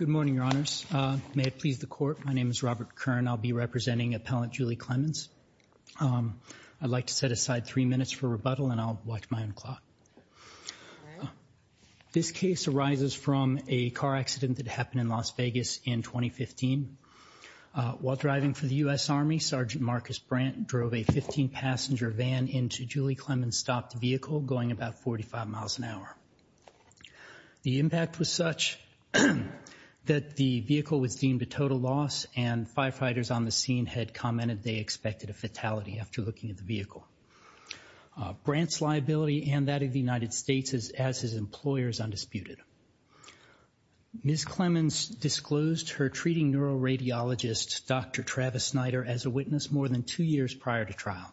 Congress. May it please the court. My name is Robert Kern. I'll be representing Appellant Julie Clemens. I'd like to set aside three minutes for rebuttal, and I'll watch my own clock. This case arises from a car accident that happened in Las Vegas in 2015. While driving for the U.S. Army, Sergeant Marcus Brandt drove a 15-passenger van into Julie Clemens' stopped vehicle, going about 45 miles an hour. The impact was such that the vehicle was deemed a total loss, and firefighters on the scene had commented they expected a fatality after looking at the vehicle. Brandt's liability and that of the United States as his employer is undisputed. Ms. Clemens disclosed her treating neuroradiologist, Dr. Travis Snyder, as a witness more than two years prior to trial.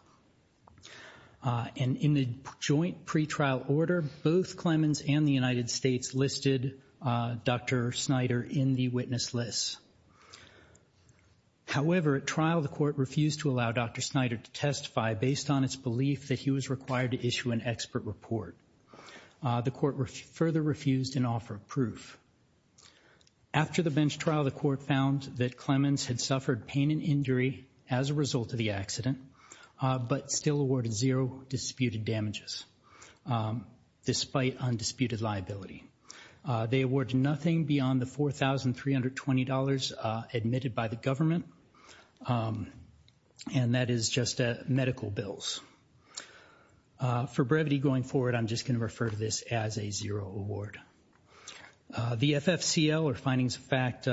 And in the joint pretrial order, both Clemens and the United States listed Dr. Snyder in the witness list. However, at trial, the court refused to allow Dr. Snyder to testify based on its belief that he was required to issue an expert report. The court further refused an offer of proof. After the bench trial, the court found that Clemens had suffered pain and injury as a result of the accident, but still awarded zero disputed damages despite undisputed liability. They awarded nothing beyond the $4,320 admitted by the government, and that is just medical bills. For brevity going forward, I'm just going to refer to this as a zero award. The FFCL, or findings of fact,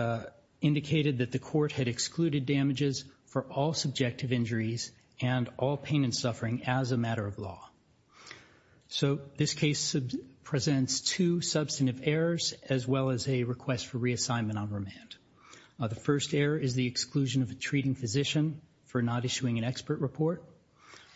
indicated that the court had excluded damages for all subjective injuries and all pain and suffering as a matter of law. So this case presents two substantive errors, as well as a request for reassignment on remand. The first error is the exclusion of a treating physician for not issuing an expert report.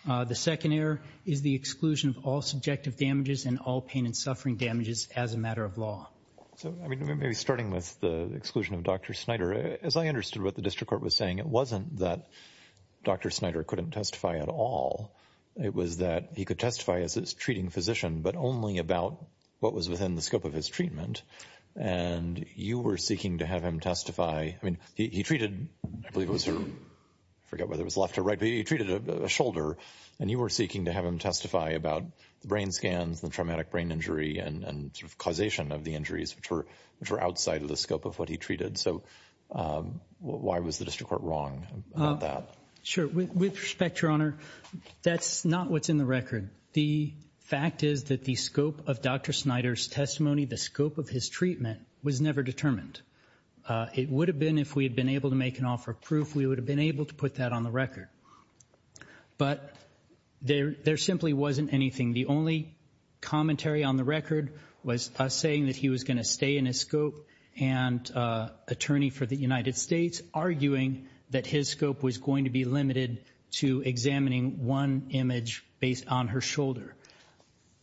The second error is the exclusion of all subjective damages and all pain and suffering damages as a matter of law. So maybe starting with the exclusion of Dr. Snyder, as I understood what the district court was saying, it wasn't that Dr. Snyder couldn't testify at all. It was that he could testify as a treating physician, but only about what was within the scope of his treatment. And you were seeking to have him testify. I mean, he treated, I believe it was her, I forget whether it was left or right, but he treated a shoulder, and you were seeking to have him testify about the brain scans, the traumatic brain injury, and causation of the injuries, which were outside of the scope of what he treated. So why was the district court wrong about that? Sure. With respect, Your Honor, that's not what's in the record. The fact is that the scope of Dr. Snyder's testimony, the scope of his treatment, was never determined. It would have been if we had been able to make an offer of proof. We would have been able to put that on the record. But there simply wasn't anything. The only commentary on the record was us saying that he was going to stay in his scope and attorney for the United States arguing that his scope was going to be limited to examining one image based on her shoulder.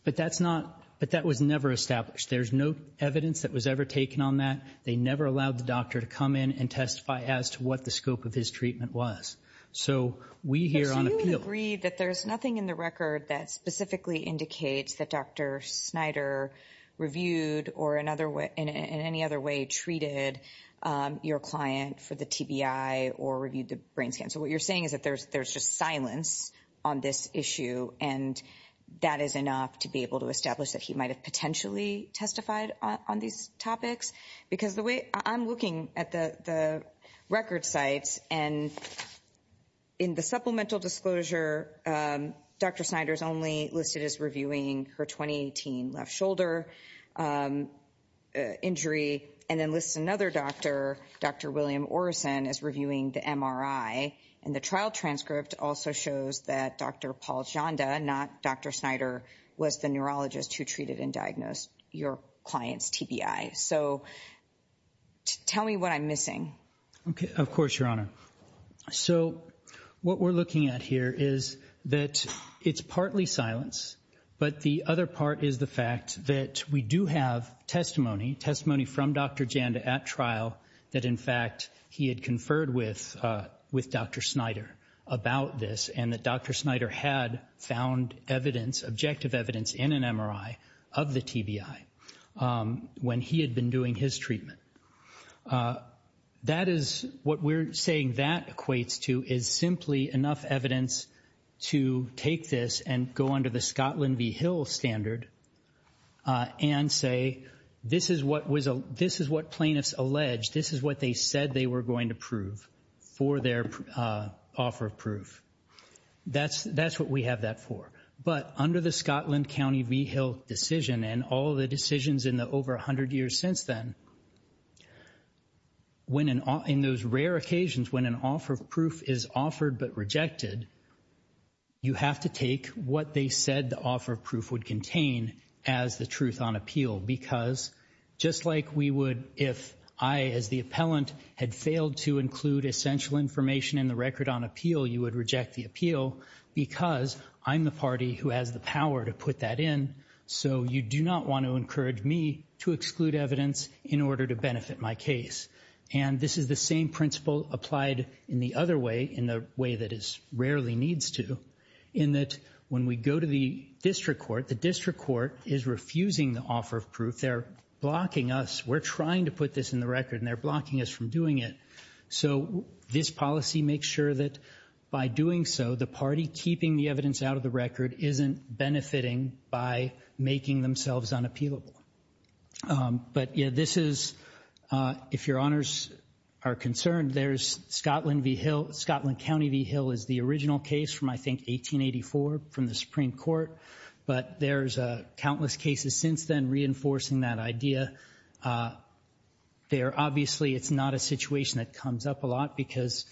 But that's not, but that was never established. There's no evidence that was ever taken on that. They never allowed the doctor to come in and testify as to what the scope of his treatment was. So we here on appeal. We agree that there's nothing in the record that specifically indicates that Dr. Snyder reviewed or in any other way treated your client for the TBI or reviewed the brain scan. So what you're saying is that there's just silence on this issue, and that is enough to be able to establish that he might have potentially testified on these topics. Because the way I'm looking at the record sites and in the supplemental disclosure, Dr. Snyder's only listed as reviewing her 2018 left shoulder injury and then lists another doctor, Dr. William Orison, as reviewing the MRI. And the trial transcript also shows that Dr. Paul Janda, not Dr. Snyder, was the neurologist who treated and diagnosed your client's TBI. So tell me what I'm missing. Okay. Of course, Your Honor. So what we're looking at here is that it's partly silence, but the other part is the fact that we do have testimony, testimony from Dr. Janda at trial, that in fact he had conferred with Dr. Snyder about this and that Dr. Snyder had found evidence, objective evidence, in an MRI of the TBI. When he had been doing his treatment. That is what we're saying that equates to is simply enough evidence to take this and go under the Scotland v. Hill standard and say, this is what plaintiffs alleged, this is what they said they were going to prove for their offer of proof. That's what we have that for. But under the Scotland County v. Hill decision and all the decisions in the over 100 years since then, in those rare occasions when an offer of proof is offered but rejected, you have to take what they said the offer of proof would contain as the truth on appeal because just like we would if I, as the appellant, had failed to include essential information in the record on appeal, you would reject the appeal because I'm the party who has the power to put that in, so you do not want to encourage me to exclude evidence in order to benefit my case. And this is the same principle applied in the other way, in the way that it rarely needs to, in that when we go to the district court, the district court is refusing the offer of proof. They're blocking us. We're trying to put this in the record and they're blocking us from doing it. So this policy makes sure that by doing so, the party keeping the evidence out of the record isn't benefiting by making themselves unappealable. But this is, if your honors are concerned, there's Scotland v. Hill. Scotland County v. Hill is the original case from, I think, 1884 from the Supreme Court, but there's countless cases since then reinforcing that idea. Obviously, it's not a situation that comes up a lot because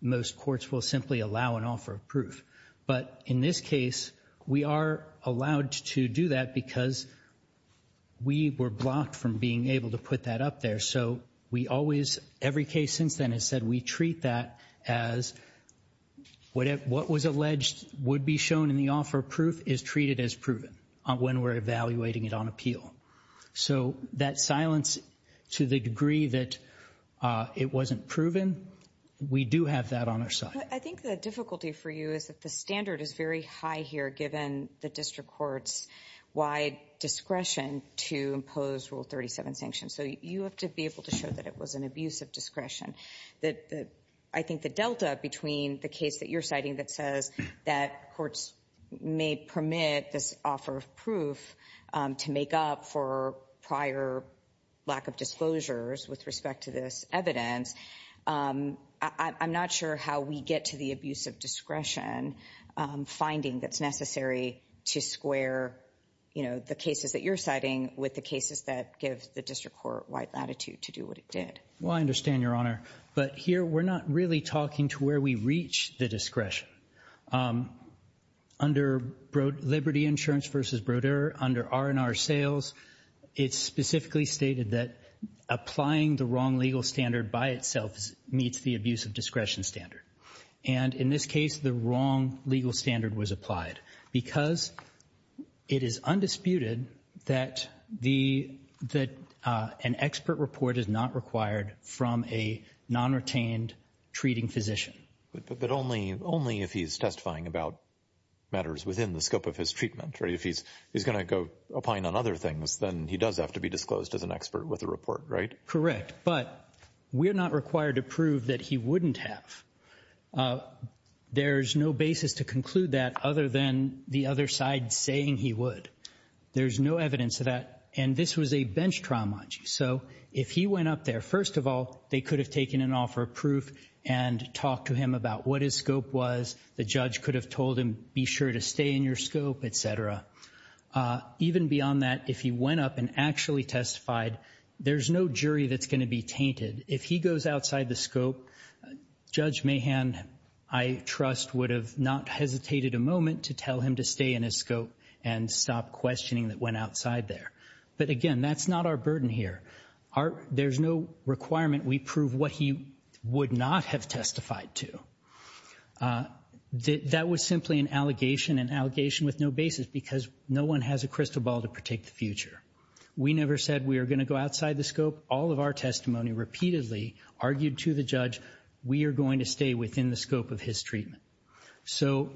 most courts will simply allow an offer of proof. But in this case, we are allowed to do that because we were blocked from being able to put that up there. So every case since then has said we treat that as what was alleged would be shown in the offer of proof is treated as proven when we're evaluating it on appeal. So that silence to the degree that it wasn't proven, we do have that on our side. I think the difficulty for you is that the standard is very high here, given the district court's wide discretion to impose Rule 37 sanctions. So you have to be able to show that it was an abuse of discretion. I think the delta between the case that you're citing that says that courts may permit this offer of proof to make up for prior lack of disclosures with respect to this evidence, I'm not sure how we get to the abuse of discretion finding that's necessary to square the cases that you're citing with the cases that give the district court wide latitude to do what it did. Well, I understand, Your Honor, but here we're not really talking to where we reach the discretion. Under Liberty Insurance v. Brodeur, under R&R Sales, it's specifically stated that applying the wrong legal standard by itself meets the abuse of discretion standard. And in this case, the wrong legal standard was applied because it is undisputed that an expert report is not required from a non-retained treating physician. But only if he's testifying about matters within the scope of his treatment. If he's going to go opine on other things, then he does have to be disclosed as an expert with a report, right? Correct. But we're not required to prove that he wouldn't have. There's no basis to conclude that other than the other side saying he would. There's no evidence of that. And this was a bench trial, mind you. So if he went up there, first of all, they could have taken an offer of proof and talked to him about what his scope was. The judge could have told him, be sure to stay in your scope, etc. Even beyond that, if he went up and actually testified, there's no jury that's going to be tainted. If he goes outside the scope, Judge Mahan, I trust, would have not hesitated a moment to tell him to stay in his scope and stop questioning that went outside there. But again, that's not our burden here. There's no requirement we prove what he would not have testified to. That was simply an allegation, an allegation with no basis, because no one has a crystal ball to protect the future. We never said we are going to go outside the scope. All of our testimony repeatedly argued to the judge, we are going to stay within the scope of his treatment. So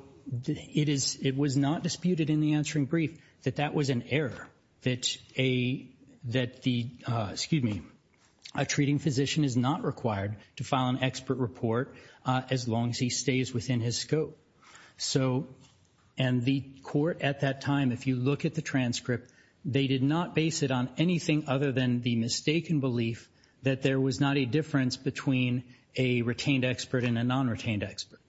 it was not disputed in the answering brief that that was an error, that a treating physician is not required to file an expert report as long as he stays within his scope. And the court at that time, if you look at the transcript, they did not base it on anything other than the mistaken belief that there was not a difference between a retained expert and a non-retained expert.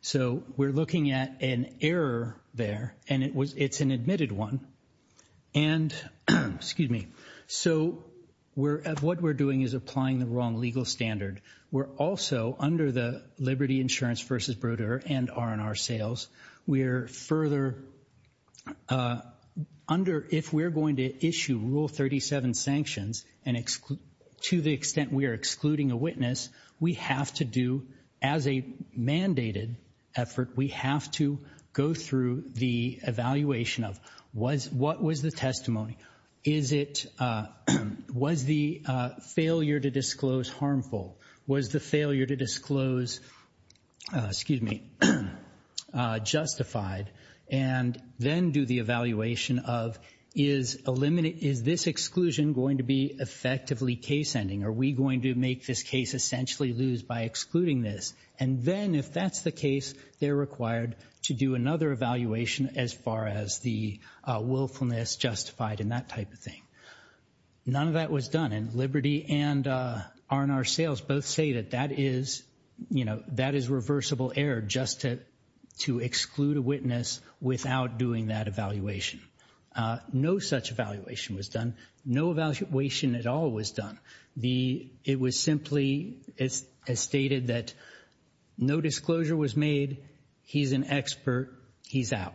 So we're looking at an error there, and it's an admitted one. And, excuse me, so what we're doing is applying the wrong legal standard. We're also, under the Liberty Insurance v. Brodeur and R&R sales, we're further, if we're going to issue Rule 37 sanctions to the extent we are excluding a witness, we have to do, as a mandated effort, we have to go through the evaluation of what was the testimony. Was the failure to disclose harmful? Was the failure to disclose justified? And then do the evaluation of, is this exclusion going to be effectively case-ending? Are we going to make this case essentially lose by excluding this? And then, if that's the case, they're required to do another evaluation as far as the willfulness justified and that type of thing. None of that was done, and Liberty and R&R sales both say that that is, you know, that is reversible error just to exclude a witness without doing that evaluation. No such evaluation was done. No evaluation at all was done. It was simply stated that no disclosure was made, he's an expert, he's out.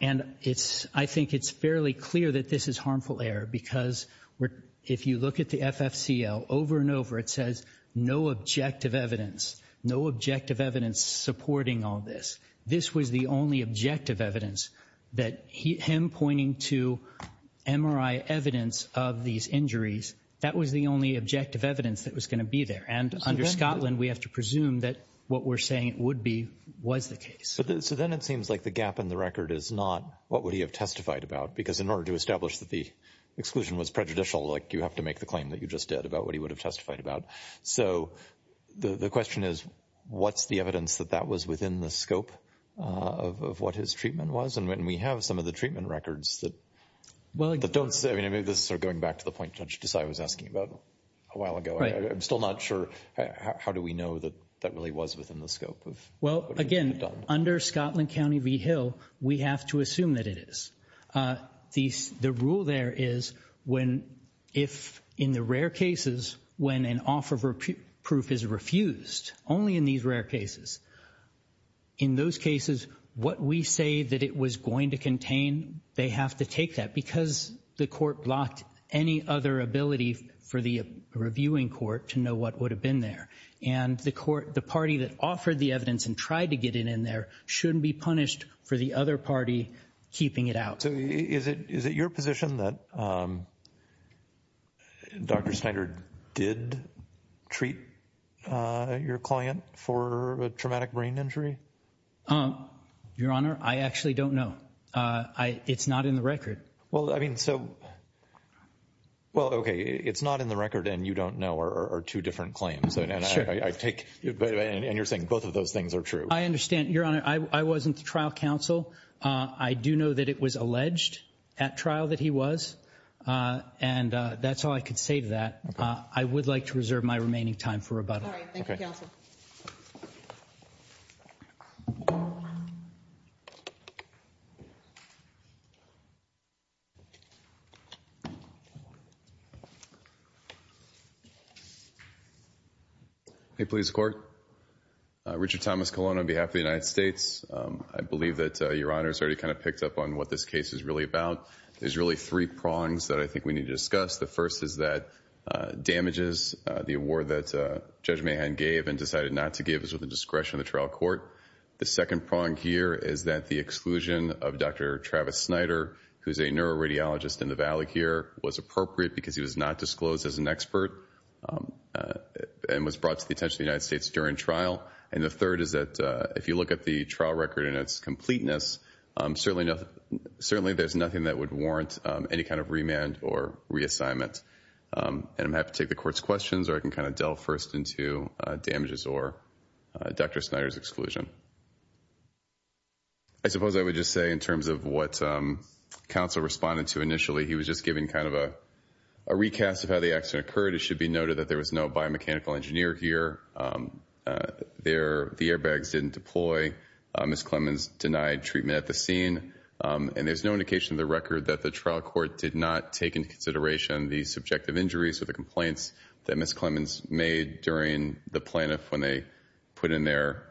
And it's, I think it's fairly clear that this is harmful error because if you look at the FFCL, over and over, it says no objective evidence, no objective evidence supporting all this. This was the only objective evidence that him pointing to MRI evidence of these injuries, that was the only objective evidence that was going to be there. And under Scotland, we have to presume that what we're saying it would be was the case. So then it seems like the gap in the record is not what would he have testified about, because in order to establish that the exclusion was prejudicial, like you have to make the claim that you just did about what he would have testified about. So the question is, what's the evidence that that was within the scope of what his treatment was? And we have some of the treatment records that don't say, I mean, this is sort of going back to the point Judge Desai was asking about a while ago. I'm still not sure how do we know that that really was within the scope of what he would have done. Under Scotland County v. Hill, we have to assume that it is. The rule there is when if in the rare cases when an offer of proof is refused, only in these rare cases, in those cases what we say that it was going to contain, they have to take that, because the court blocked any other ability for the reviewing court to know what would have been there. And the court, the party that offered the evidence and tried to get it in there, shouldn't be punished for the other party keeping it out. So is it your position that Dr. Snyder did treat your client for a traumatic brain injury? Your Honor, I actually don't know. It's not in the record. Well, I mean, so, well, okay, it's not in the record and you don't know are two different claims. And you're saying both of those things are true. I understand, Your Honor. I wasn't the trial counsel. I do know that it was alleged at trial that he was. And that's all I could say to that. I would like to reserve my remaining time for rebuttal. All right. Thank you, counsel. Hey, police court. Richard Thomas Colon on behalf of the United States. I believe that Your Honor has already kind of picked up on what this case is really about. There's really three prongs that I think we need to discuss. The first is that damages the award that Judge Mahan gave and decided not to give us with the discretion of the trial court. The second prong here is that the exclusion of Dr. Travis Snyder, who's a neuroradiologist in the Valley here, was appropriate because he was not disclosed as an expert and was brought to the attention of the United States during trial. And the third is that if you look at the trial record and its completeness, certainly there's nothing that would warrant any kind of remand or reassignment. And I'm happy to take the court's questions, or I can kind of delve first into damages or Dr. Snyder's exclusion. I suppose I would just say in terms of what counsel responded to initially, he was just giving kind of a recast of how the accident occurred. It should be noted that there was no biomechanical engineer here. The airbags didn't deploy. Ms. Clemmons denied treatment at the scene. And there's no indication in the record that the trial court did not take into consideration the subjective injuries or the complaints that Ms. Clemmons made during the plaintiff when they put in their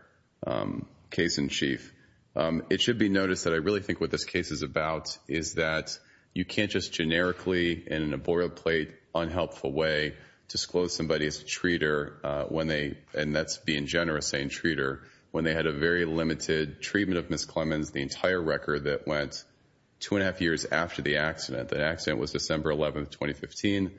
case in chief. It should be noticed that I really think what this case is about is that you can't just generically and in a boilerplate, unhelpful way disclose somebody as a treater when they, and that's being generous saying treater, when they had a very limited treatment of Ms. Clemmons, the entire record that went two and a half years after the accident. The accident was December 11, 2015.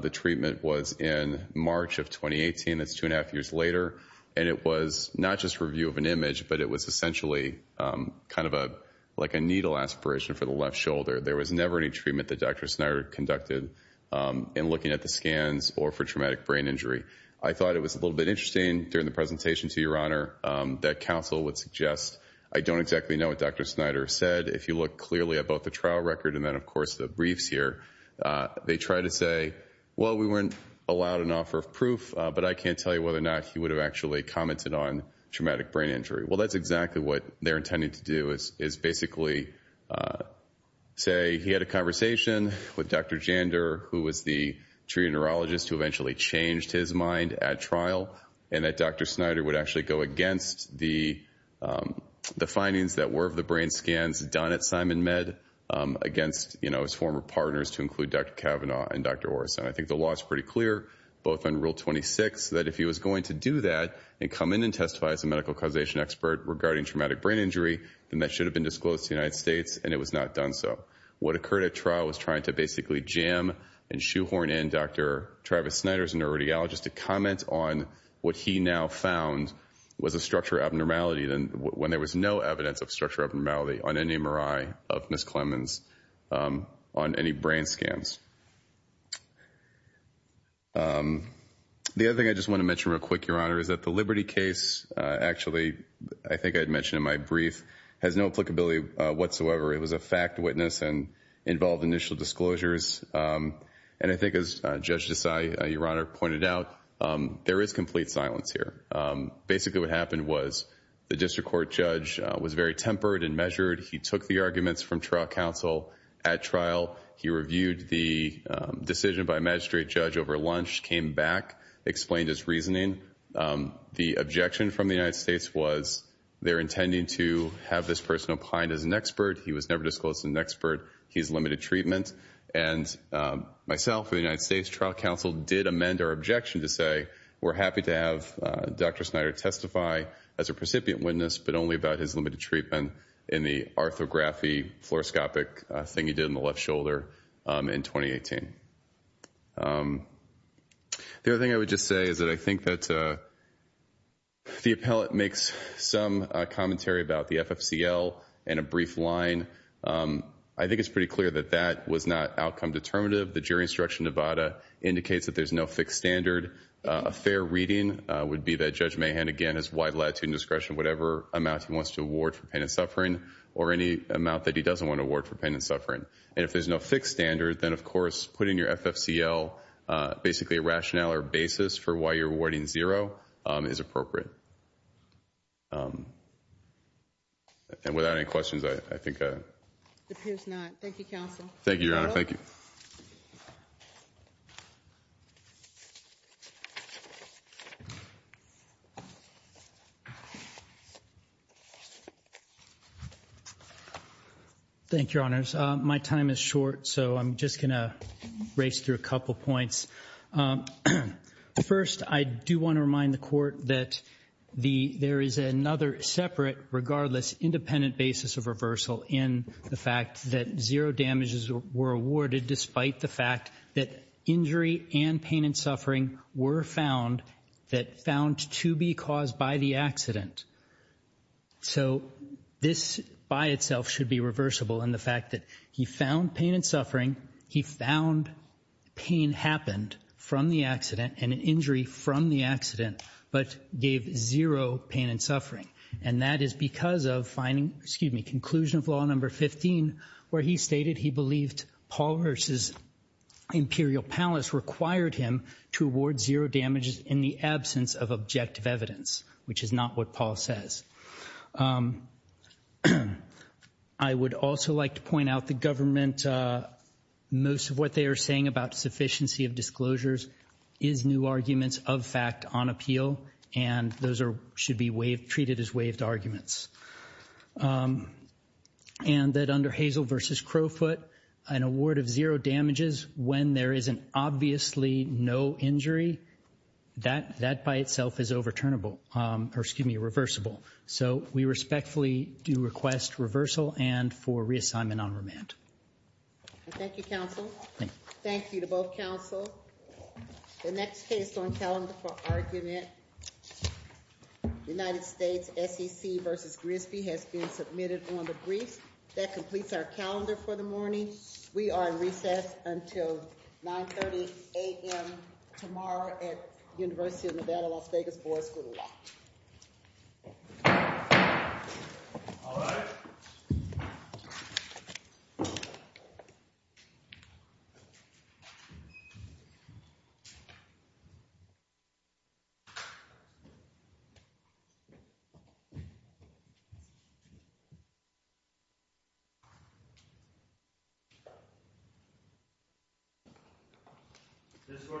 The treatment was in March of 2018. That's two and a half years later. And it was not just review of an image, but it was essentially kind of like a needle aspiration for the left shoulder. There was never any treatment that Dr. Snyder conducted in looking at the scans or for traumatic brain injury. I thought it was a little bit interesting during the presentation, to your honor, that counsel would suggest. I don't exactly know what Dr. Snyder said. If you look clearly at both the trial record and then, of course, the briefs here, they try to say, well, we weren't allowed an offer of proof, but I can't tell you whether or not he would have actually commented on traumatic brain injury. Well, that's exactly what they're intending to do is basically say he had a conversation with Dr. Jander, who was the treater neurologist who eventually changed his mind at trial, and that Dr. Snyder would actually go against the findings that were of the brain scans done at SimonMed, against his former partners to include Dr. Kavanaugh and Dr. Orison. I think the law is pretty clear, both under Rule 26, that if he was going to do that and come in and testify as a medical causation expert regarding traumatic brain injury, then that should have been disclosed to the United States, and it was not done so. What occurred at trial was trying to basically jam and shoehorn in Dr. Travis Snyder as a neuroradiologist to comment on what he now found was a structural abnormality, when there was no evidence of structural abnormality on any MRI of Ms. Clemens on any brain scans. The other thing I just want to mention real quick, Your Honor, is that the Liberty case, actually I think I had mentioned in my brief, has no applicability whatsoever. It was a fact witness and involved initial disclosures, and I think as Judge Desai, Your Honor, pointed out, there is complete silence here. Basically what happened was the district court judge was very tempered and measured. He took the arguments from trial counsel at trial. He reviewed the decision by magistrate judge over lunch, came back, explained his reasoning. The objection from the United States was they're intending to have this person opined as an expert. He was never disclosed as an expert. He's limited treatment, and myself and the United States trial counsel did amend our objection to say we're happy to have Dr. Snyder testify as a precipient witness, but only about his limited treatment in the arthrography, fluoroscopic thing he did in the left shoulder in 2018. The other thing I would just say is that I think that the appellate makes some commentary about the FFCL in a brief line. I think it's pretty clear that that was not outcome determinative. The jury instruction Nevada indicates that there's no fixed standard. A fair reading would be that Judge Mahan, again, has wide latitude and discretion, whatever amount he wants to award for pain and suffering or any amount that he doesn't want to award for pain and suffering. And if there's no fixed standard, then, of course, putting your FFCL basically a rationale or basis for why you're awarding zero is appropriate. And without any questions, I think I'm done. It appears not. Thank you, counsel. Thank you, Your Honor. Thank you. Thank you, Your Honors. My time is short, so I'm just going to race through a couple points. First, I do want to remind the court that there is another separate, regardless, independent basis of reversal in the fact that zero damages were awarded despite the fact that injury and pain and suffering were found that found to be caused by the accident. So this by itself should be reversible in the fact that he found pain and suffering. He found pain happened from the accident and an injury from the accident but gave zero pain and suffering. And that is because of finding, excuse me, conclusion of Law No. 15 where he stated he believed Paul Hirsch's imperial palace required him to award zero damages in the absence of objective evidence, which is not what Paul says. I would also like to point out the government, most of what they are saying about sufficiency of disclosures is new arguments of fact on appeal, and those should be treated as waived arguments. And that under Hazel v. Crowfoot, an award of zero damages when there is an obviously no injury, that by itself is overturnable, or excuse me, reversible. So we respectfully do request reversal and for reassignment on remand. Thank you, counsel. Thank you to both counsel. The next case on calendar for argument, United States SEC v. Grisby, has been submitted on the brief. That completes our calendar for the morning. We are in recess until 9.30 a.m. tomorrow at University of Nevada, Las Vegas, Boyd School of Law. Is this good for recess? Thank you.